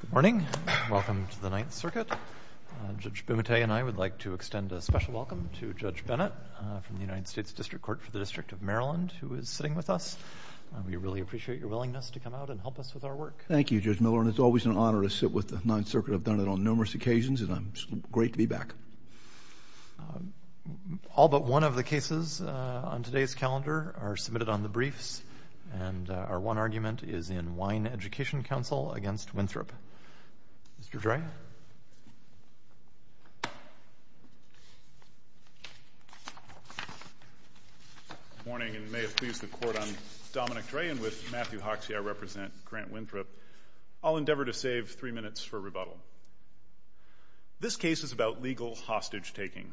Good morning. Welcome to the Ninth Circuit. Judge Bumate and I would like to extend a special welcome to Judge Bennett from the United States District Court for the District of Maryland, who is sitting with us. We really appreciate your willingness to come out and help us with our work. Thank you, Judge Miller, and it's always an honor to sit with the Ninth Circuit. I've done it on numerous occasions, and it's great to be back. All but one of the cases on today's calendar are submitted on the Ninth Circuit, and I'd like to turn it over to Mr. Grant Winthrop. Mr. Dray? Good morning, and may it please the Court, I'm Dominic Dray, and with Matthew Hoxie, I represent Grant Winthrop. I'll endeavor to save three minutes for rebuttal. This case is about legal hostage taking.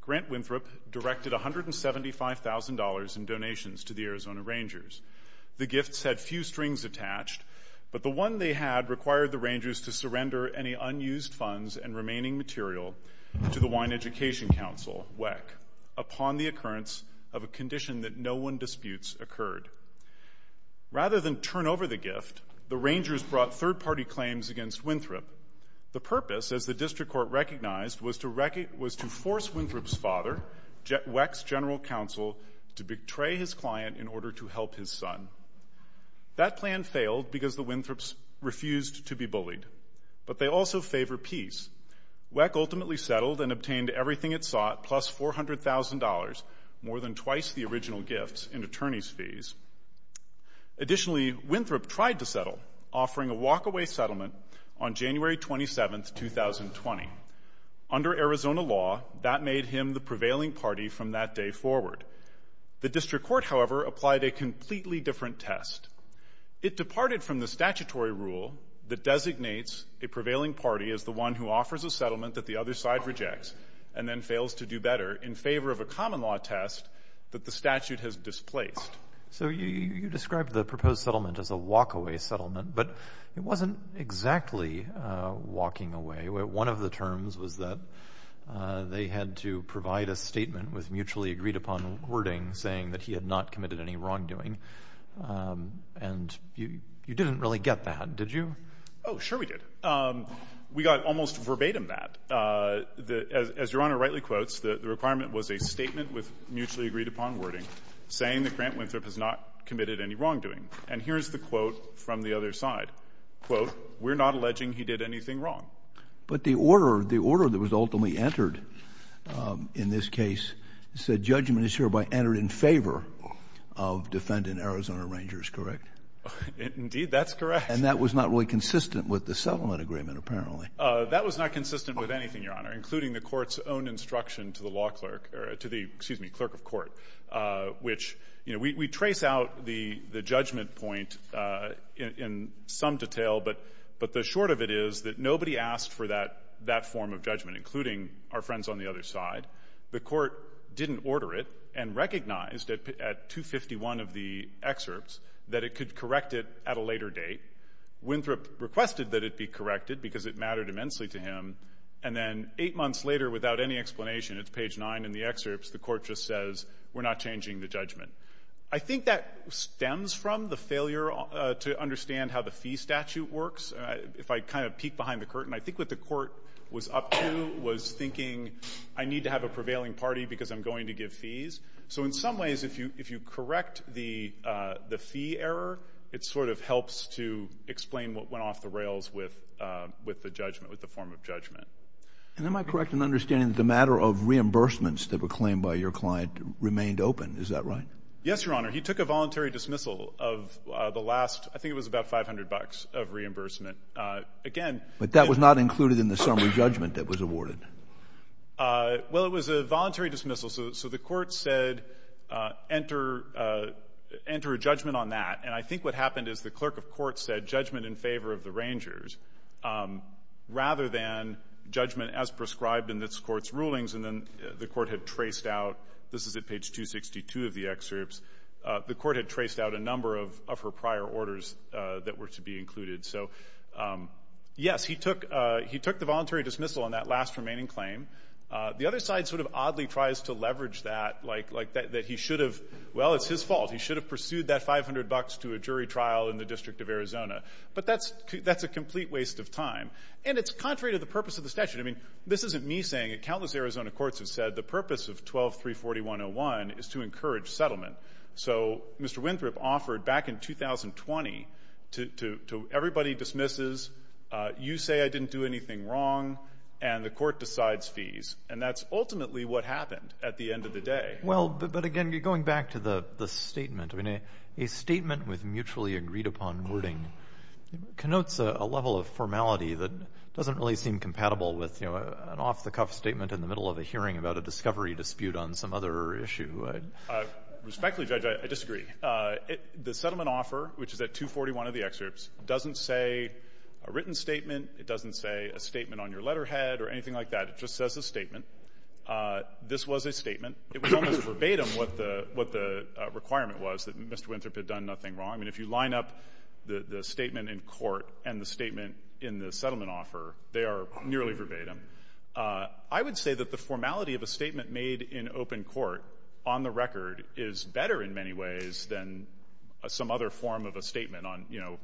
Grant Winthrop directed $175,000 in donations to the Arizona Rangers. The gifts had few strings attached, but the one they had required the Rangers to surrender any unused funds and remaining material to the Wine Education Council, WECC, upon the occurrence of a condition that no one disputes occurred. Rather than turn over the gift, the Rangers brought third-party claims against Winthrop. The purpose, as the District Court recognized, was to force Winthrop's father, WECC's general counsel, to betray his client in order to help his son. That plan failed because the Winthrops refused to be bullied, but they also favor peace. WECC ultimately settled and obtained everything it sought, plus $400,000, more than twice the original gifts, in attorney's fees. Additionally, Winthrop tried to settle, offering a walk-away settlement on January 27, 2020. Under Arizona law, that made him the prevailing party from that day forward. The District Court, however, applied a completely different test. It departed from the statutory rule that designates a prevailing party as the one who offers a settlement that the other side rejects and then fails to do better in favor of a common law test that the statute has displaced. So you described the proposed settlement as a walk-away settlement, but it wasn't exactly walking away. One of the terms was that they had to provide a statement with mutually agreed upon wording saying that he had not committed any wrongdoing. And you didn't really get that, did you? Oh, sure we did. We got almost verbatim that. As Your Honor rightly quotes, the requirement was a statement with mutually agreed upon wording saying that Grant Winthrop has not committed any wrongdoing. And here's the quote from the other side. Quote, we're not alleging he did anything wrong. But the order, the order that was ultimately entered in this case said the judgment is hereby entered in favor of defendant Arizona Rangers, correct? Indeed, that's correct. And that was not really consistent with the settlement agreement, apparently. That was not consistent with anything, Your Honor, including the Court's own instruction to the law clerk or to the, excuse me, clerk of court, which, you know, we trace out the judgment point in some detail, but the short of it is that nobody asked for that form of judgment, including our friends on the other side. The Court didn't order it and recognized at 251 of the excerpts that it could correct it at a later date. Winthrop requested that it be corrected because it mattered immensely to him. And then eight months later, without any explanation, it's page 9 in the excerpts, the Court just says, we're not changing the judgment. I think that stems from the failure to understand how the fee statute works. If I kind of peek behind the curtain, I think what the Court was up to was thinking I need to have a prevailing party because I'm going to give fees. So in some ways, if you correct the fee error, it sort of helps to explain what went off the rails with the judgment, with the form of judgment. And am I correct in understanding that the matter of reimbursements that were claimed by your client remained open? Is that right? Yes, Your Honor. He took a voluntary dismissal of the last, I think it was about 500 bucks of reimbursement. Again. But that was not included in the summary judgment that was awarded. Well, it was a voluntary dismissal. So the Court said, enter a judgment on that. And I think what happened is the clerk of court said, judgment in favor of the Rangers, rather than judgment as prescribed in this Court's rulings. And then the Court had traced out, this is at page 262 of the excerpts, the Court had traced out a number of her prior orders that were to be included. So yes, he took the voluntary dismissal on that last remaining claim. The other side sort of oddly tries to leverage that, like that he should have, well, it's his fault. He should have pursued that 500 bucks to a jury trial in the District of Arizona. But that's a complete waste of time. And it's contrary to the purpose of the statute. I mean, this isn't me saying it. Countless Arizona courts have said the purpose of 12-341-01 is to encourage settlement. So Mr. Winthrop offered back in 2020 to everybody dismisses, you say I didn't do anything wrong, and the Court decides fees. And that's ultimately what happened at the end of the day. Well, but again, going back to the statement, I mean, a statement with mutually agreed-upon wording connotes a level of formality that doesn't really seem compatible with an off-the-cuff statement in the middle of a hearing about a discovery dispute on some other issue. So I'm not sure if you would. Respectfully, Judge, I disagree. The settlement offer, which is at 241 of the excerpts, doesn't say a written statement. It doesn't say a statement on your letterhead or anything like that. It just says a statement. This was a statement. It was almost verbatim what the requirement was, that Mr. Winthrop had done nothing wrong. I mean, if you line up the statement in court and the statement in the settlement offer, they are nearly verbatim. I would say that the formality of a statement made in open court on the record is better in many ways than some other form of a statement on, you know,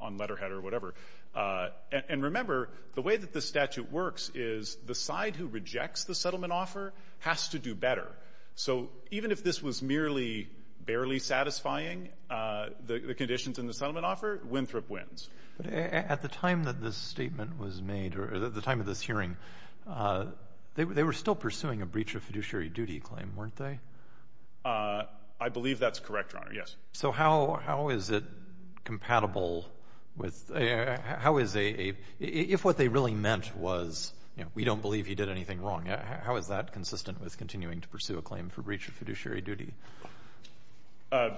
on letterhead or whatever. And remember, the way that this statute works is the side who rejects the settlement offer has to do better. So even if this was merely barely satisfying the conditions in the settlement offer, Winthrop wins. But at the time that this statement was made, or at the time of this hearing, they were still pursuing a breach of fiduciary duty claim, weren't they? I believe that's correct, Your Honor, yes. So how is it compatible with, how is a, if what they really meant was, you know, we don't believe he did anything wrong, how is that consistent with continuing to pursue a claim for breach of fiduciary duty?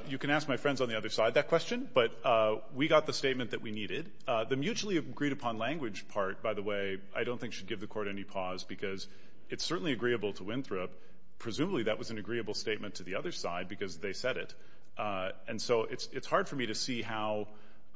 You can ask my friends on the other side that question, but we got the statement that we needed. The mutually agreed upon language part, by the way, I don't think should give the court any pause because it's certainly agreeable to Winthrop. Presumably that was an agreeable statement to the other side because they said it. And so it's hard for me to see how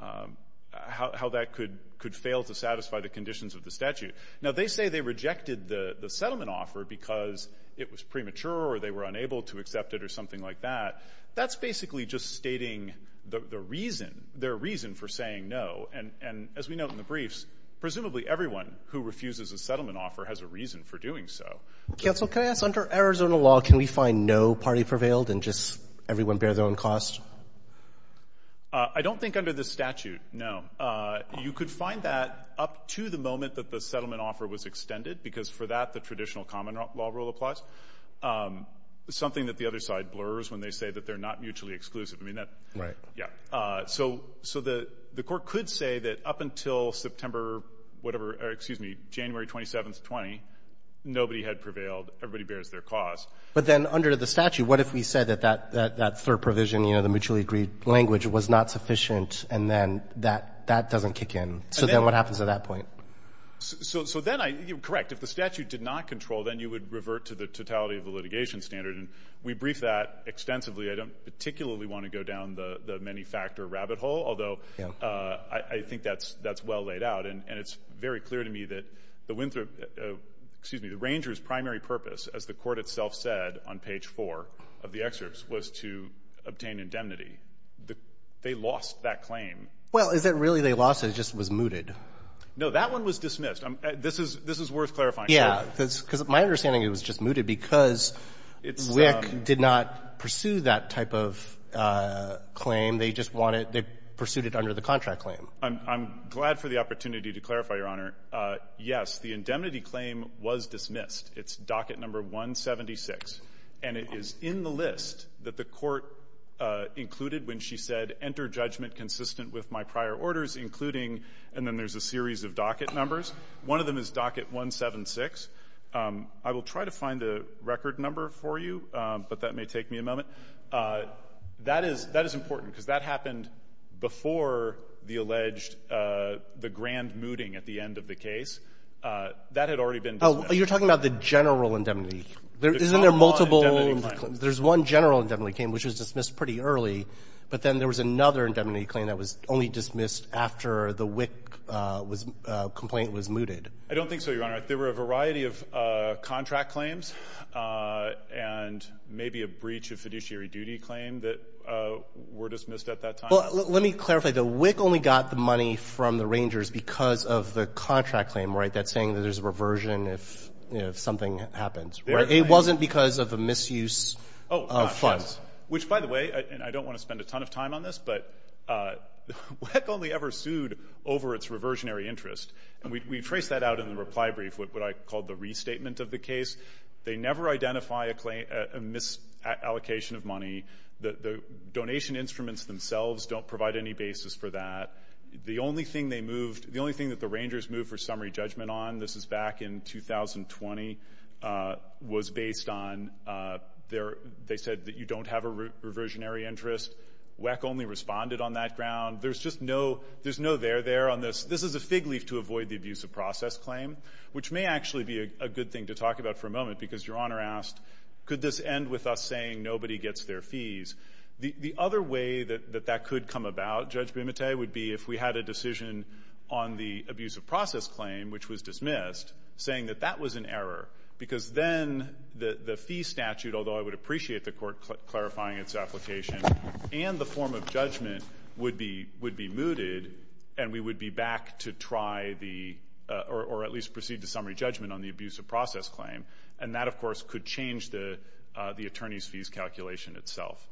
that could fail to satisfy the conditions of the statute. Now, they say they rejected the settlement offer because it was premature or they were unable to accept it or something like that. That's basically just stating the reason, their reason for saying no. And as we note in the briefs, presumably everyone who refuses a settlement offer has a reason for doing so. Counsel, can I ask, under Arizona law, can we find no party prevailed and just everyone bear their own cost? I don't think under the statute, no. You could find that up to the moment that the settlement offer was extended, because for that, the traditional common law rule applies. It's something that the other side blurs when they say that they're not mutually exclusive. I mean, that's right. Yeah. So the court could say that up until September, whatever, or excuse me, January 27th, 20, nobody had prevailed. Everybody bears their cost. But then under the statute, what if we said that that third provision, you know, the mutually agreed language was not sufficient, and then that doesn't kick in? So then what happens at that point? So then I you're correct. If the statute did not control, then you would revert to the totality of the litigation standard. And we briefed that extensively. I don't particularly want to go down the many-factor rabbit hole, although I think that's well laid out. And it's very clear to me that the Winthrop — excuse me, the Rangers' primary purpose, as the Court itself said on page 4 of the excerpts, was to obtain indemnity. They lost that claim. Well, is it really they lost it, it just was mooted? No. That one was dismissed. This is worth clarifying. Yeah. Because my understanding, it was just mooted because WIC did not pursue that type of claim. They just wanted — they pursued it under the contract claim. I'm glad for the opportunity to clarify, Your Honor. Yes, the indemnity claim was dismissed. It's docket number 176. And it is in the list that the Court included when she said, enter judgment consistent with my prior orders, including — and then there's a series of docket numbers. One of them is docket 176. I will try to find a record number for you, but that may take me a moment. That is — that is important, because that happened before the alleged — the grand mooting at the end of the case. That had already been dismissed. Oh, you're talking about the general indemnity claim. Isn't there multiple — The common indemnity claim. There's one general indemnity claim, which was dismissed pretty early. But then there was another indemnity claim that was only dismissed after the WIC complaint was mooted. I don't think so, Your Honor. There were a variety of contract claims and maybe a breach of fiduciary duty claim that were dismissed at that time. Well, let me clarify. The WIC only got the money from the Rangers because of the contract claim, right, that's saying that there's a reversion if something happens, right? It wasn't because of a misuse of funds. Which, by the way, and I don't want to spend a ton of time on this, but WIC only ever sued over its reversionary interest. And we trace that out in the reply brief, what I call the restatement of the case. They never identify a misallocation of money. The donation instruments themselves don't provide any basis for that. The only thing they moved — the only thing that the Rangers moved for summary interest. WIC only responded on that ground. There's just no — there's no there there on this. This is a fig leaf to avoid the abuse of process claim, which may actually be a good thing to talk about for a moment because Your Honor asked, could this end with us saying nobody gets their fees? The other way that that could come about, Judge Bimate, would be if we had a decision on the abuse of process claim, which was dismissed, saying that that was an error because then the fee statute, although I would appreciate the Court clarifying its application, and the form of judgment would be — would be mooted, and we would be back to try the — or at least proceed to summary judgment on the abuse of process claim. And that, of course, could change the attorney's fees calculation itself.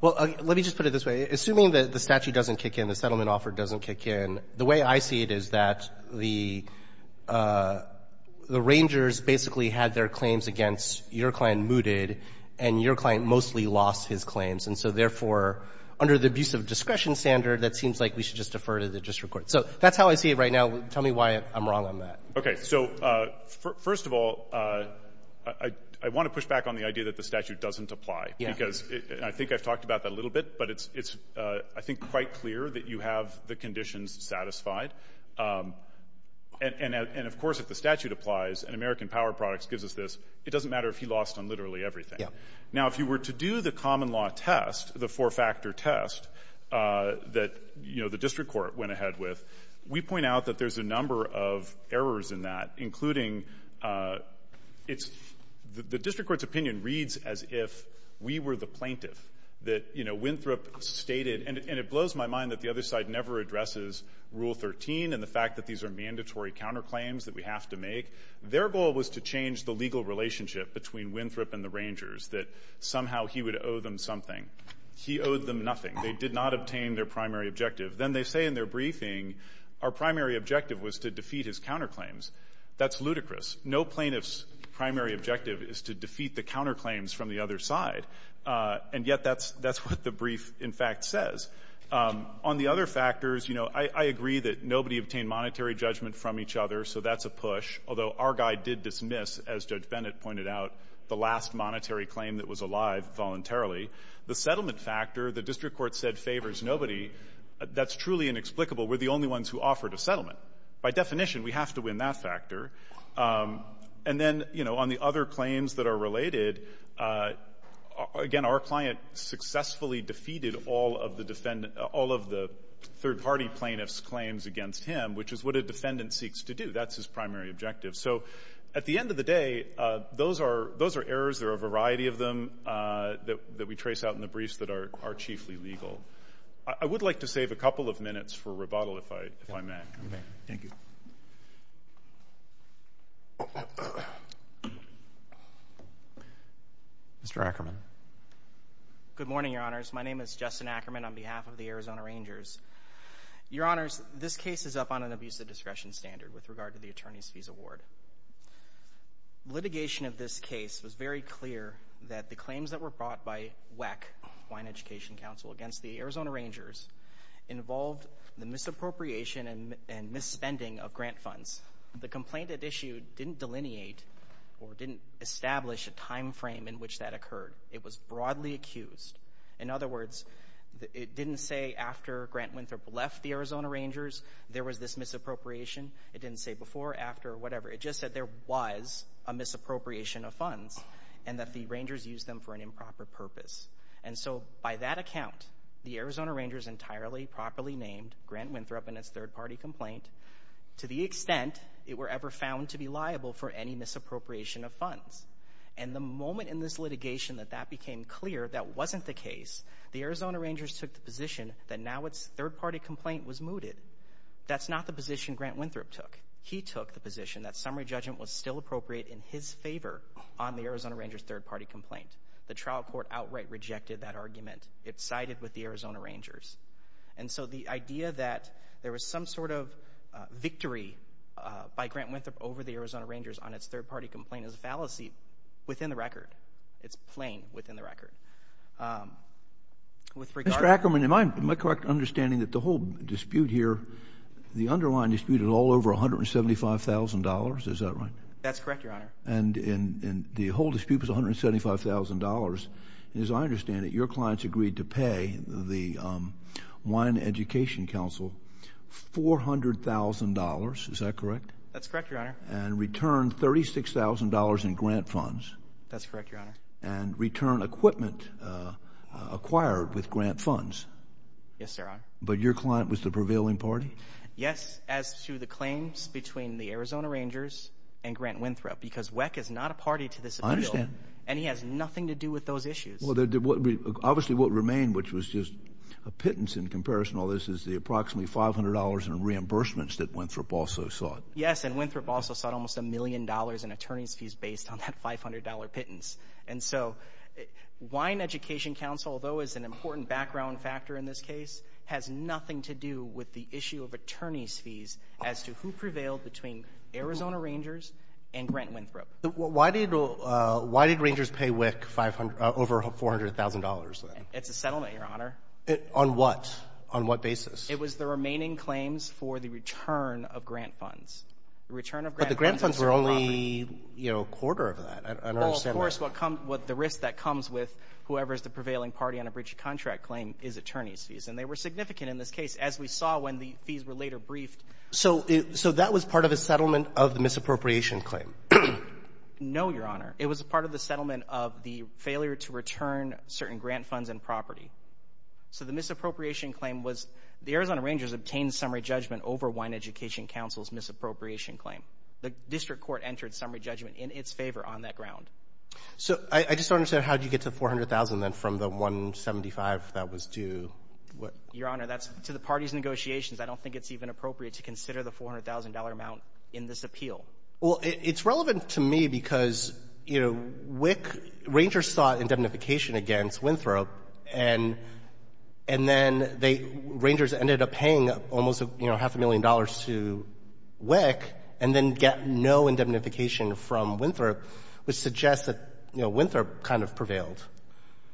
Well, let me just put it this way. Assuming that the statute doesn't kick in, the settlement offer doesn't kick in, the way I see it is that the — the Rangers basically had their claims against your client mooted, and your client mostly lost his claims. And so therefore, under the abuse of discretion standard, that seems like we should just defer to the district court. So that's how I see it right now. Tell me why I'm wrong on that. Okay. So first of all, I want to push back on the idea that the statute doesn't apply. Yeah. And, of course, if the statute applies, and American Power Products gives us this, it doesn't matter if he lost on literally everything. Yeah. Now, if you were to do the common law test, the four-factor test that, you know, the district court went ahead with, we point out that there's a number of errors in that, including it's — the district court's opinion reads as if we were the plaintiff, that, you know, Winthrop stated — and it blows my mind that the other side never addresses Rule 13 and the fact that these are mandatory counterclaims that we have to make. Their goal was to change the legal relationship between Winthrop and the Rangers, that somehow he would owe them something. He owed them nothing. They did not obtain their primary objective. Then they say in their briefing, our primary objective was to defeat his counterclaims. That's ludicrous. No plaintiff's primary objective is to defeat the counterclaims from the other side. And yet that's — that's what the brief, in fact, says. On the other factors, you know, I agree that nobody obtained monetary judgment from each other, so that's a push, although our guy did dismiss, as Judge Bennett pointed out, the last monetary claim that was alive voluntarily. The settlement factor, the district court said favors nobody, that's truly inexplicable. We're the only ones who offered a settlement. By definition, we have to win that factor. And then, you know, on the other claims that are related, again, our client successfully defeated all of the third-party plaintiff's claims against him, which is what a defendant seeks to do. That's his primary objective. So at the end of the day, those are errors. There are a variety of them that we trace out in the briefs that are chiefly legal. I would like to save a couple of minutes for rebuttal, if I may. Okay. Thank you. Mr. Ackerman. Good morning, Your Honors. My name is Justin Ackerman on behalf of the Arizona Rangers. Your Honors, this case is up on an abusive discretion standard with regard to the attorney's fees award. Litigation of this case was very clear that the claims that were brought by WECC, the Hawaiian Education Council, against the Arizona Rangers involved the misappropriation and misspending of grant funds. The complaint it issued didn't delineate or didn't establish a timeframe in which that occurred. It was broadly accused. In other words, it didn't say after Grant Winthrop left the Arizona Rangers, there was this misappropriation. It didn't say before, after, or whatever. It just said there was a misappropriation of funds and that the Rangers used them for an improper purpose. And so, by that account, the Arizona Rangers entirely properly named Grant Winthrop and its third-party complaint to the extent it were ever found to be liable for any misappropriation of funds. And the moment in this litigation that that became clear that wasn't the case, the Arizona Rangers took the position that now its third-party complaint was mooted. That's not the position Grant Winthrop took. He took the position that summary judgment was still appropriate in his favor on the Arizona Rangers' third-party complaint. The trial court outright rejected that argument. It sided with the Arizona Rangers. And so, the idea that there was some sort of victory by Grant Winthrop over the Arizona Rangers on its third-party complaint is a fallacy within the record. It's plain within the record. With regard to— Mr. Ackerman, am I correct in understanding that the whole dispute here, the underlying dispute, is all over $175,000? Is that right? That's correct, Your Honor. And the whole dispute was $175,000. And as I understand it, your clients agreed to pay the Wine Education Council $400,000. Is that correct? That's correct, Your Honor. And return $36,000 in grant funds. That's correct, Your Honor. And return equipment acquired with grant funds. Yes, sir, Your Honor. But your client was the prevailing party? Yes, as to the claims between the Arizona Rangers and Grant Winthrop, because WECC is not a party to this appeal. I understand. And he has nothing to do with those issues. Obviously, what remained, which was just a pittance in comparison to all this, is the approximately $500 in reimbursements that Winthrop also sought. Yes, and Winthrop also sought almost a million dollars in attorney's fees based on that $500 pittance. And so, Wine Education Council, though it's an important background factor in this case, has nothing to do with the issue of attorney's fees as to who prevailed between Arizona Rangers and Grant Winthrop. Why did Rangers pay WECC over $400,000 then? It's a settlement, Your Honor. On what? On what basis? It was the remaining claims for the return of grant funds. But the grant funds were only, you know, a quarter of that. I don't understand that. Well, of course, the risk that comes with whoever is the prevailing party on a breach contract claim is attorney's fees. And they were significant in this case, as we saw when the fees were later briefed. So that was part of a settlement of the misappropriation claim? No, Your Honor. It was a part of the settlement of the failure to return certain grant funds and property. So the misappropriation claim was the Arizona Rangers obtained summary judgment over Wine Education Council's misappropriation claim. The district court entered summary judgment in its favor on that ground. So I just don't understand. How did you get to $400,000 then from the $175,000 that was due? Your Honor, that's to the parties' negotiations. I don't think it's even appropriate to consider the $400,000 amount in this appeal. Well, it's relevant to me because, you know, WECC — Rangers sought indemnification against Winthrop, and then they — Rangers ended up paying almost, you know, half a million dollars to WECC and then get no indemnification from Winthrop, which suggests that, you know, Winthrop kind of prevailed.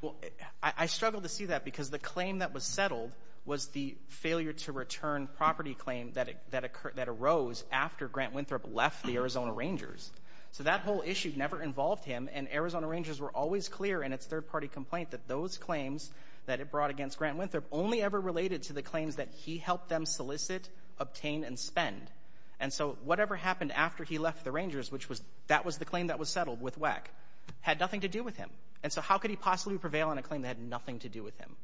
Well, I struggle to see that because the claim that was settled was the failure to return property claim that arose after Grant Winthrop left the Arizona Rangers. So that whole issue never involved him, and Arizona Rangers were always clear in its third-party complaint that those claims that it brought against Grant Winthrop only ever related to the claims that he helped them solicit, obtain, and spend. And so whatever happened after he left the Rangers, which was — that was the claim that was settled with WECC, had nothing to do with him. And so how could he possibly prevail on a claim that had nothing to do with him?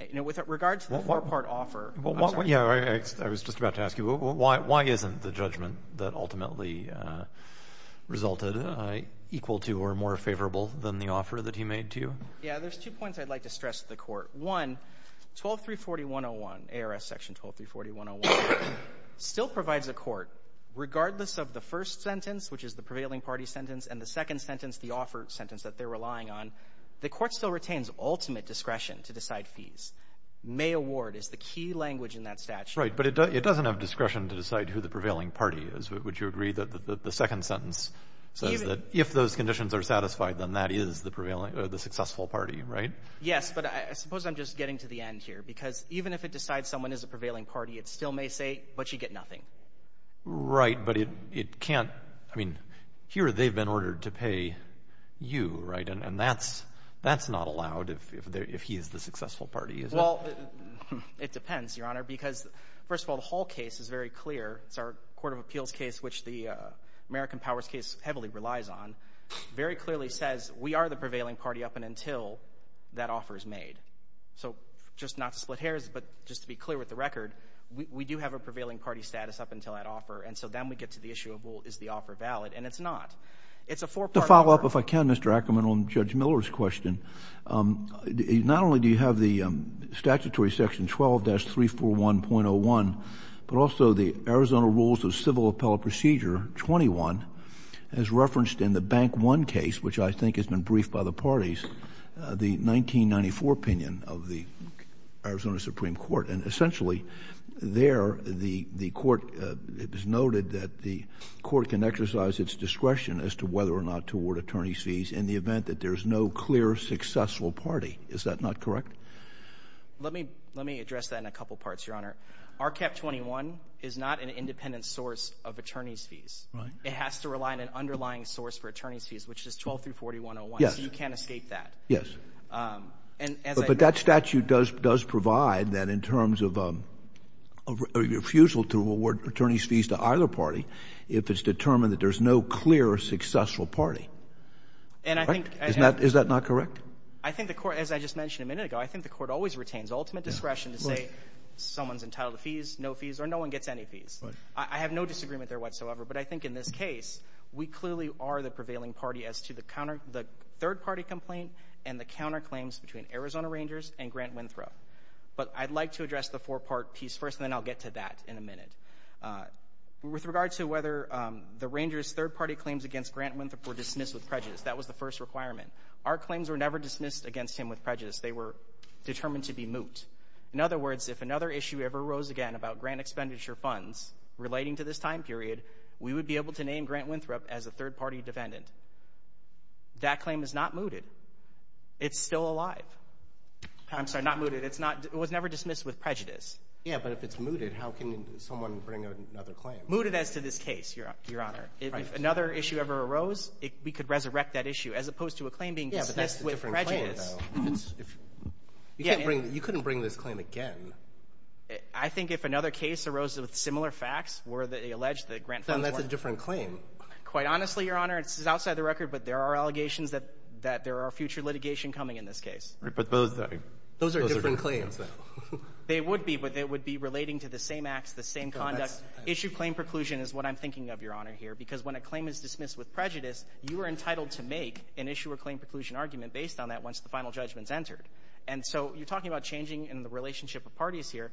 You know, with regard to the four-part offer — Yeah, I was just about to ask you, why isn't the judgment that ultimately resulted equal to or more favorable than the offer that he made to you? Yeah, there's two points I'd like to stress to the Court. One, 12341.01, ARS Section 12341.01, still provides a court, regardless of the first sentence, which is the prevailing party sentence, and the second sentence, the offer sentence that they're relying on, the court still retains ultimate discretion to decide fees. May award is the key language in that statute. Right, but it doesn't have discretion to decide who the prevailing party is. Would you agree that the second sentence says that if those conditions are satisfied, then that is the prevailing — the successful party, right? Yes, but I suppose I'm just getting to the end here, because even if it decides someone is a prevailing party, it still may say, but you get nothing. Right, but it can't — I mean, here they've been ordered to pay you, right? And that's not allowed if he is the successful party, is it? Well, it depends, Your Honor, because, first of all, the Hall case is very clear. It's our Court of Appeals case, which the American Powers case heavily relies on. Very clearly says we are the prevailing party up until that offer is made. So just not to split hairs, but just to be clear with the record, we do have a prevailing party status up until that offer, and so then we get to the issue of, well, is the offer valid? And it's not. It's a four-part offer. To follow up, if I can, Mr. Ackerman, on Judge Miller's question, not only do you have the statutory section 12-341.01, but also the Arizona Rules of Civil Appellate Procedure 21, as referenced in the Bank I case, which I think has been briefed by the parties, the 1994 opinion of the Arizona Supreme Court. And essentially there, the court — it was noted that the court can exercise its discretion as to whether or not to award attorney's fees in the event that there is no clear successful party. Is that not correct? Let me address that in a couple parts, Your Honor. RCAP 21 is not an independent source of attorney's fees. Right. It has to rely on an underlying source for attorney's fees, which is 12-341.01. Yes. So you can't escape that. Yes. But that statute does provide that in terms of a refusal to award attorney's fees to either party if it's determined that there's no clear successful party. And I think — Is that not correct? I think the court — as I just mentioned a minute ago, I think the court always retains ultimate discretion to say someone's entitled to fees, no fees, or no one gets any fees. Right. I have no disagreement there whatsoever. But I think in this case, we clearly are the prevailing party as to the third-party complaint and the counterclaims between Arizona Rangers and Grant Winthrop. But I'd like to address the four-part piece first, and then I'll get to that in a minute. With regard to whether the Rangers' third-party claims against Grant Winthrop were dismissed with prejudice, that was the first requirement. Our claims were never dismissed against him with prejudice. They were determined to be moot. In other words, if another issue ever arose again about grant expenditure funds relating to this time period, we would be able to name Grant Winthrop as a third-party defendant. That claim is not mooted. It's still alive. I'm sorry, not mooted. It was never dismissed with prejudice. Yeah, but if it's mooted, how can someone bring another claim? Mooted as to this case, Your Honor. If another issue ever arose, we could resurrect that issue, as opposed to a claim being dismissed with prejudice. Yeah, but that's a different claim, though. You couldn't bring this claim again. I think if another case arose with similar facts, where they allege that grant funds weren't— Then that's a different claim. Quite honestly, Your Honor, this is outside the record, but there are allegations that there are future litigation coming in this case. But those are different claims, though. They would be, but they would be relating to the same acts, the same conduct. Issued claim preclusion is what I'm thinking of, Your Honor, here, because when a claim is dismissed with prejudice, you are entitled to make an issue or claim preclusion argument based on that once the final judgment is entered. And so you're talking about changing in the relationship of parties here.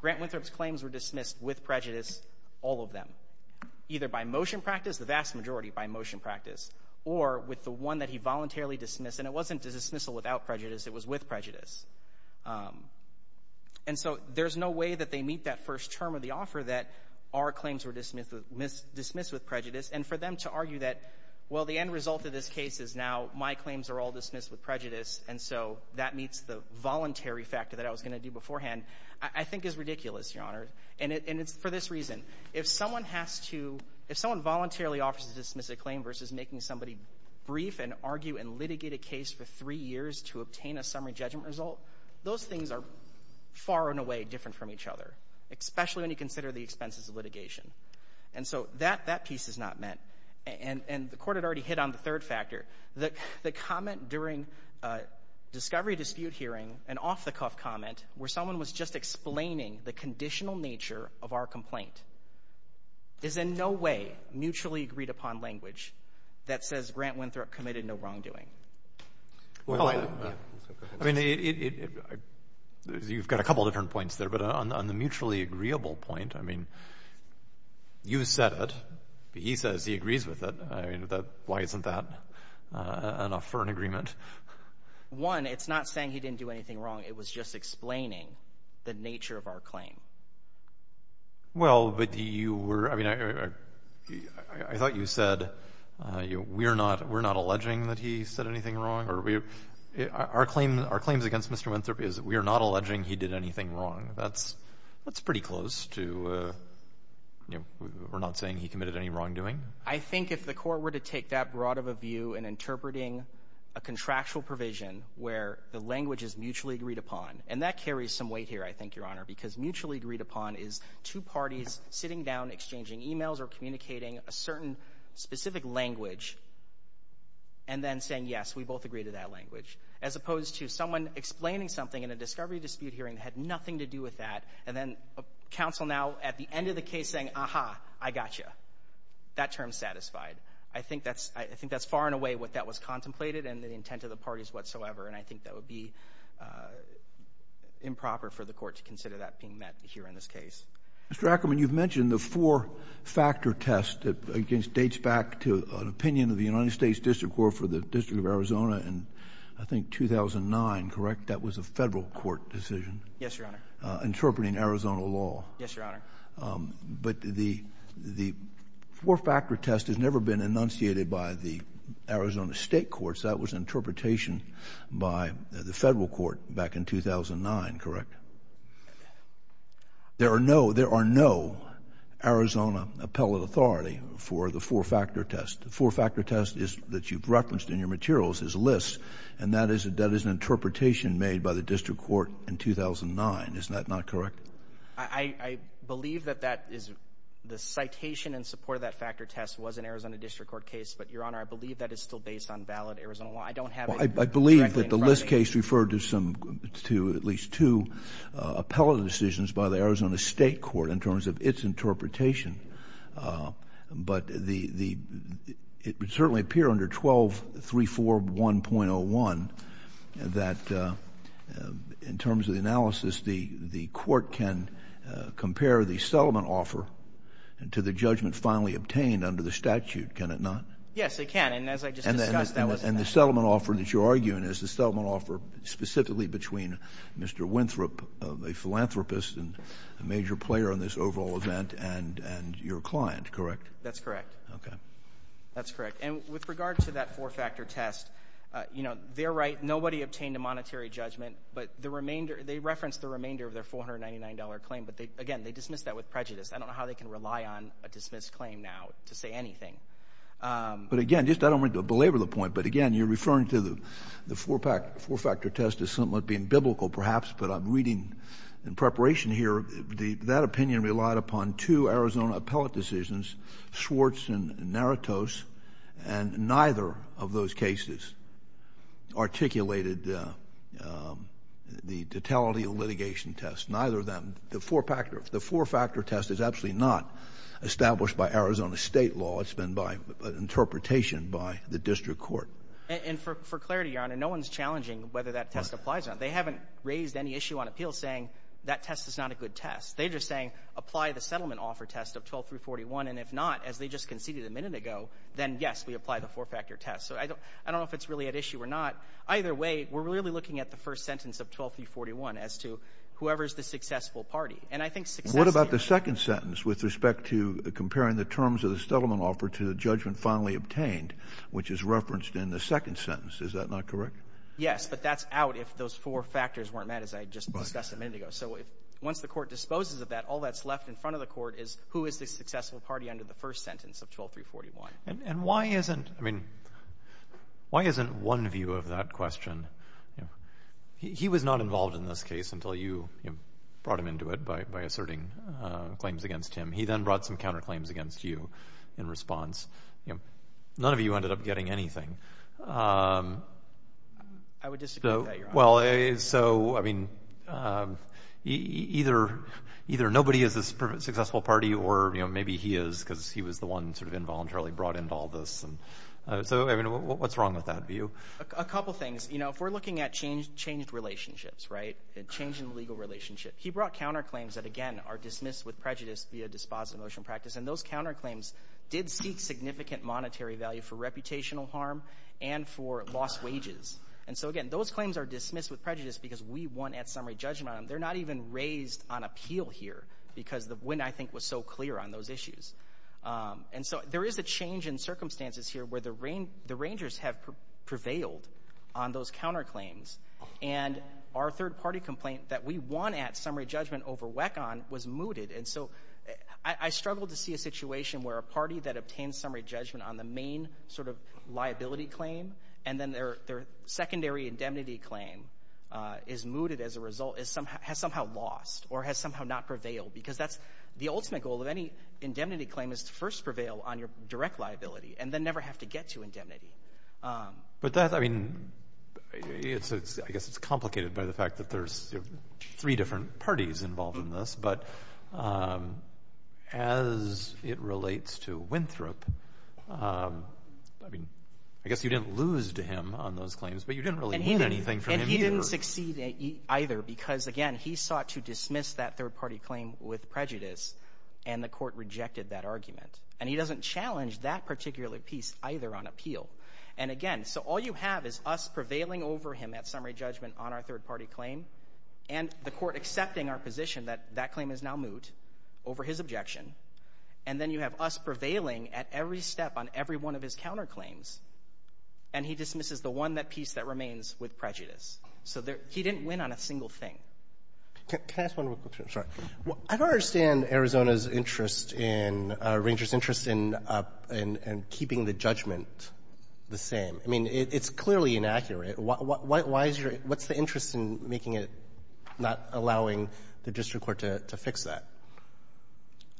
Grant Winthrop's claims were dismissed with prejudice, all of them, either by motion practice, the vast majority by motion practice, or with the one that he voluntarily dismissed. And it wasn't dismissal without prejudice. It was with prejudice. And so there's no way that they meet that first term of the offer that our claims were dismissed with prejudice. And for them to argue that, well, the end result of this case is now my claims are all dismissed with prejudice, and so that meets the voluntary factor that I was going to do beforehand, I think is ridiculous, Your Honor. And it's for this reason. If someone has to, if someone voluntarily offers to dismiss a claim versus making somebody brief and argue and litigate a case for three years to obtain a summary judgment result, those things are far and away different from each other, especially when you consider the expenses of litigation. And so that piece is not met. And the Court had already hit on the third factor. The comment during a discovery dispute hearing, an off-the-cuff comment, where someone was just explaining the conditional nature of our complaint, is in no way mutually agreed upon language that says Grant Winthrop committed no wrongdoing. Well, I mean, you've got a couple different points there. But on the mutually agreeable point, I mean, you said it. He says he agrees with it. Why isn't that enough for an agreement? One, it's not saying he didn't do anything wrong. It was just explaining the nature of our claim. Well, but you were, I mean, I thought you said we're not alleging that he said anything wrong. Our claims against Mr. Winthrop is we are not alleging he did anything wrong. That's pretty close to we're not saying he committed any wrongdoing. I think if the Court were to take that broad of a view in interpreting a contractual provision where the language is mutually agreed upon, and that carries some weight here, I think, Your Honor, because mutually agreed upon is two parties sitting down, exchanging e-mails or communicating a certain specific language and then saying, yes, we both agree to that language, as opposed to someone explaining something in a discovery dispute hearing that had nothing to do with that and then counsel now at the end of the case saying, aha, I got you. That term's satisfied. I think that's far and away what that was contemplated and the intent of the parties whatsoever, and I think that would be improper for the Court to consider that being met here in this case. Mr. Ackerman, you've mentioned the four-factor test. It dates back to an opinion of the United States District Court for the District of Arizona in, I think, 2009, correct? That was a Federal court decision. Yes, Your Honor. Interpreting Arizona law. Yes, Your Honor. But the four-factor test has never been enunciated by the Arizona State courts. That was an interpretation by the Federal court back in 2009, correct? There are no Arizona appellate authority for the four-factor test. The four-factor test that you've referenced in your materials is LIS, and that is an interpretation made by the District Court in 2009. Isn't that not correct? I believe that that is the citation in support of that factor test was an Arizona District Court case, but, Your Honor, I believe that is still based on valid Arizona law. I don't have it correctly in front of me. LIS referred to at least two appellate decisions by the Arizona State court in terms of its interpretation, but it would certainly appear under 12341.01 that, in terms of the analysis, the court can compare the settlement offer to the judgment finally obtained under the statute, can it not? Yes, it can. And as I just discussed, that was the case. The settlement offer that you're arguing is the settlement offer specifically between Mr. Winthrop, a philanthropist and a major player in this overall event, and your client, correct? That's correct. Okay. That's correct. And with regard to that four-factor test, you know, they're right. Nobody obtained a monetary judgment, but they referenced the remainder of their $499 claim, but, again, they dismissed that with prejudice. I don't know how they can rely on a dismissed claim now to say anything. But, again, just I don't want to belabor the point, but, again, you're referring to the four-factor test as something that being biblical perhaps, but I'm reading in preparation here that opinion relied upon two Arizona appellate decisions, Schwartz and Naratos, and neither of those cases articulated the totality of litigation test. Neither of them, the four-factor test is absolutely not established by Arizona state law. It's been by interpretation by the district court. And for clarity, Your Honor, no one is challenging whether that test applies or not. They haven't raised any issue on appeal saying that test is not a good test. They're just saying apply the settlement offer test of 12341, and if not, as they just conceded a minute ago, then, yes, we apply the four-factor test. So I don't know if it's really at issue or not. Either way, we're really looking at the first sentence of 12341 as to whoever is the successful party. And I think success is the answer. with respect to comparing the terms of the settlement offer to the judgment finally obtained, which is referenced in the second sentence. Is that not correct? Yes, but that's out if those four factors weren't met, as I just discussed a minute ago. So once the court disposes of that, all that's left in front of the court is who is the successful party under the first sentence of 12341. And why isn't one view of that question? He was not involved in this case until you brought him into it by asserting claims against him. He then brought some counterclaims against you in response. None of you ended up getting anything. I would disagree with that, Your Honor. Well, so, I mean, either nobody is the successful party or, you know, maybe he is because he was the one sort of involuntarily brought into all this. So, I mean, what's wrong with that view? A couple things. You know, if we're looking at changed relationships, right, a change in the legal relationship, he brought counterclaims that, again, are dismissed with prejudice via dispositive motion practice, and those counterclaims did speak significant monetary value for reputational harm and for lost wages. And so, again, those claims are dismissed with prejudice because we won at summary judgment on them. They're not even raised on appeal here because the win, I think, was so clear on those issues. And so there is a change in circumstances here where the rangers have prevailed on those counterclaims. And our third-party complaint that we won at summary judgment over WECON was mooted. And so I struggle to see a situation where a party that obtains summary judgment on the main sort of liability claim and then their secondary indemnity claim is mooted as a result, has somehow lost or has somehow not prevailed because that's the ultimate goal of any indemnity claim is to first prevail on your direct liability and then never have to get to indemnity. But that, I mean, I guess it's complicated by the fact that there's three different parties involved in this. But as it relates to Winthrop, I mean, I guess you didn't lose to him on those claims, but you didn't really win anything from him either. He didn't succeed either because, again, he sought to dismiss that third-party claim with prejudice, and the court rejected that argument. And he doesn't challenge that particular piece either on appeal. And again, so all you have is us prevailing over him at summary judgment on our third-party claim and the court accepting our position that that claim is now moot over his objection, and then you have us prevailing at every step on every one of his counterclaims, and he dismisses the one piece that remains with prejudice. So he didn't win on a single thing. Can I ask one more question? Sorry. I don't understand Arizona's interest in — Ranger's interest in keeping the judgment the same. I mean, it's clearly inaccurate. Why is your — what's the interest in making it — not allowing the district court to fix that?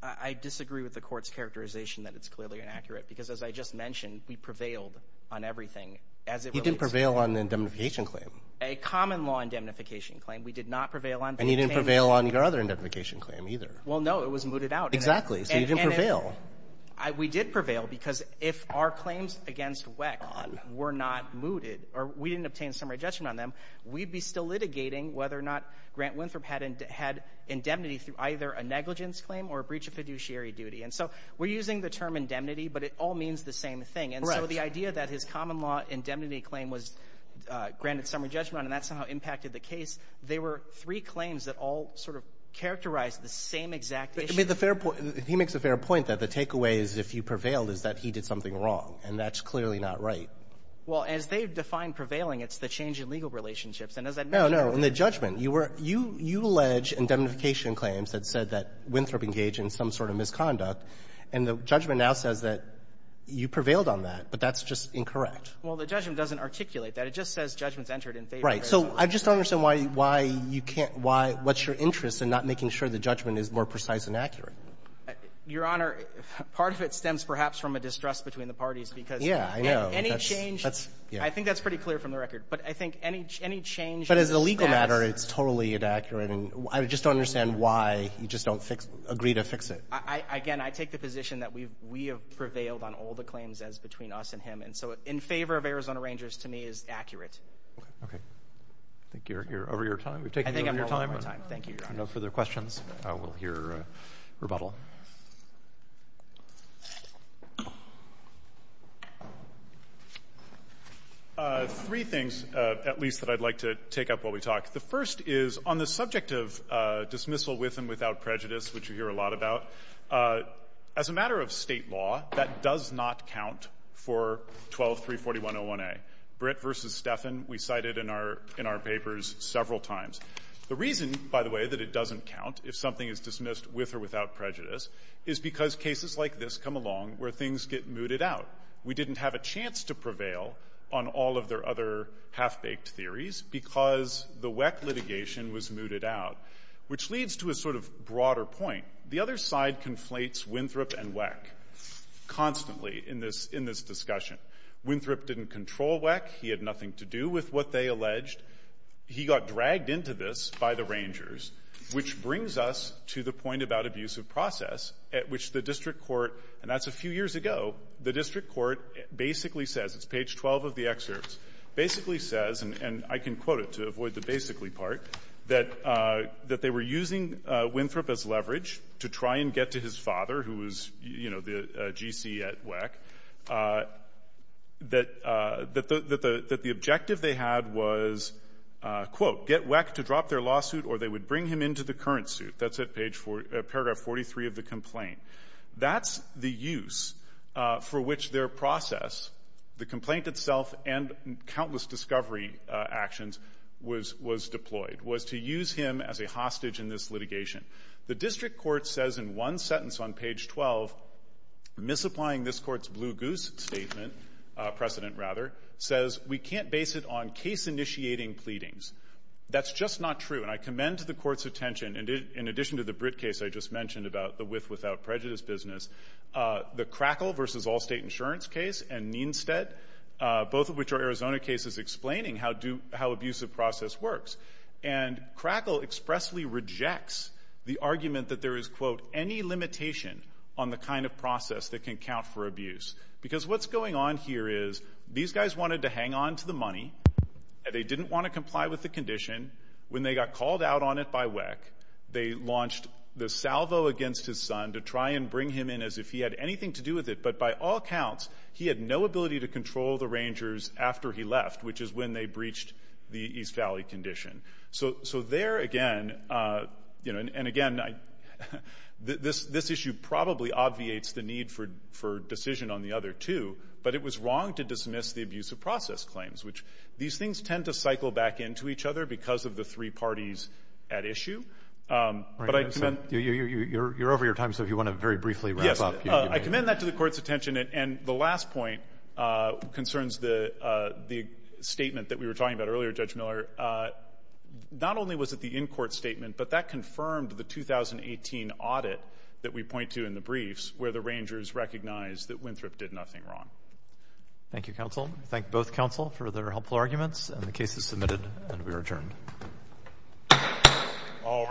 I disagree with the court's characterization that it's clearly inaccurate because, as I just mentioned, we prevailed on everything as it relates to — You didn't prevail on the indemnification claim. A common-law indemnification claim we did not prevail on. And you didn't prevail on your other indemnification claim either. Well, no. It was mooted out. Exactly. So you didn't prevail. We did prevail because if our claims against WECC were not mooted or we didn't obtain summary judgment on them, we'd be still litigating whether or not Grant Winthrop had indemnity through either a negligence claim or a breach of fiduciary duty. And so we're using the term indemnity, but it all means the same thing. Right. And so the idea that his common-law indemnity claim was granted summary judgment on and that somehow impacted the case, they were three claims that all sort of characterized the same exact issue. I mean, the fair — he makes a fair point that the takeaway is if you prevailed is that he did something wrong. And that's clearly not right. Well, as they define prevailing, it's the change in legal relationships. And as I mentioned — No, no. In the judgment, you were — you allege indemnification claims that said that Winthrop engaged in some sort of misconduct. And the judgment now says that you prevailed on that, but that's just incorrect. Well, the judgment doesn't articulate that. It just says judgment's entered in favor of — Right. So I just don't understand why you can't — why — what's your interest in not making sure the judgment is more precise and accurate? Your Honor, part of it stems perhaps from a distrust between the parties, because — Yeah, I know. Any change — That's — yeah. I think that's pretty clear from the record. But I think any — any change — But as a legal matter, it's totally inaccurate. And I just don't understand why you just don't fix — agree to fix it. I — again, I take the position that we've — we have prevailed on all the claims as between us and him. And so in favor of Arizona Rangers, to me, is accurate. Okay. I think you're — you're over your time. We've taken you over your time. I think I'm well over my time. Thank you, Your Honor. If there are no further questions, we'll hear rebuttal. Three things, at least, that I'd like to take up while we talk. The first is, on the subject of dismissal with and without prejudice, which you hear a lot about, as a matter of state law, that does not count for 1234101A. Britt v. Steffen, we cited in our — in our papers several times. The reason, by the way, that it doesn't count, if something is dismissed with or without prejudice, is because cases like this come along where things get mooted out. We didn't have a chance to prevail on all of their other half-baked theories because the WECC litigation was mooted out, which leads to a sort of broader point. The other side conflates Winthrop and WECC constantly in this — in this discussion. Winthrop didn't control WECC. He had nothing to do with what they alleged. He got dragged into this by the Rangers, which brings us to the point about abuse of process at which the district court — and that's a few years ago — the district court basically says — it's page 12 of the excerpts — basically says, and I can quote it to avoid the basically part, that — that they were using Winthrop as leverage to try and get to his father, who was, you know, the G.C. at WECC, that — that the objective they had was, quote, get WECC to drop their lawsuit or they would bring him into the current suit. That's at page — paragraph 43 of the complaint. That's the use for which their process, the complaint itself and countless discovery actions was — was deployed, was to use him as a hostage in this litigation. The district court says in one sentence on page 12, misapplying this court's blue goose statement — precedent, rather — says, we can't base it on case-initiating pleadings. That's just not true. And I commend to the court's attention — and in addition to the Britt case I just mentioned about the with-without prejudice business — the Crackle v. Allstate Insurance case and Neenstead, both of which are Arizona cases explaining how do — how abusive process works. And Crackle expressly rejects the argument that there is, quote, any limitation on the kind of process that can count for abuse. Because what's going on here is these guys wanted to hang on to the money. They didn't want to comply with the condition. When they got called out on it by WECC, they launched the salvo against his son to try and bring him in as if he had anything to do with it. But by all counts, he had no ability to control the Rangers after he left, which is when they breached the East Valley condition. So there, again — you know, and again, I — this issue probably obviates the need for decision on the other two. But it was wrong to dismiss the abusive process claims, which — these things tend to cycle back into each other because of the three parties at issue. But I commend — You're over your time, so if you want to very briefly wrap up — I commend that to the court's attention. And the last point concerns the statement that we were talking about earlier, Judge Miller. Not only was it the in-court statement, but that confirmed the 2018 audit that we point to in the briefs where the Rangers recognized that Winthrop did nothing wrong. Thank you, counsel. Thank both counsel for their helpful arguments. And the case is submitted, and we are adjourned. All rise.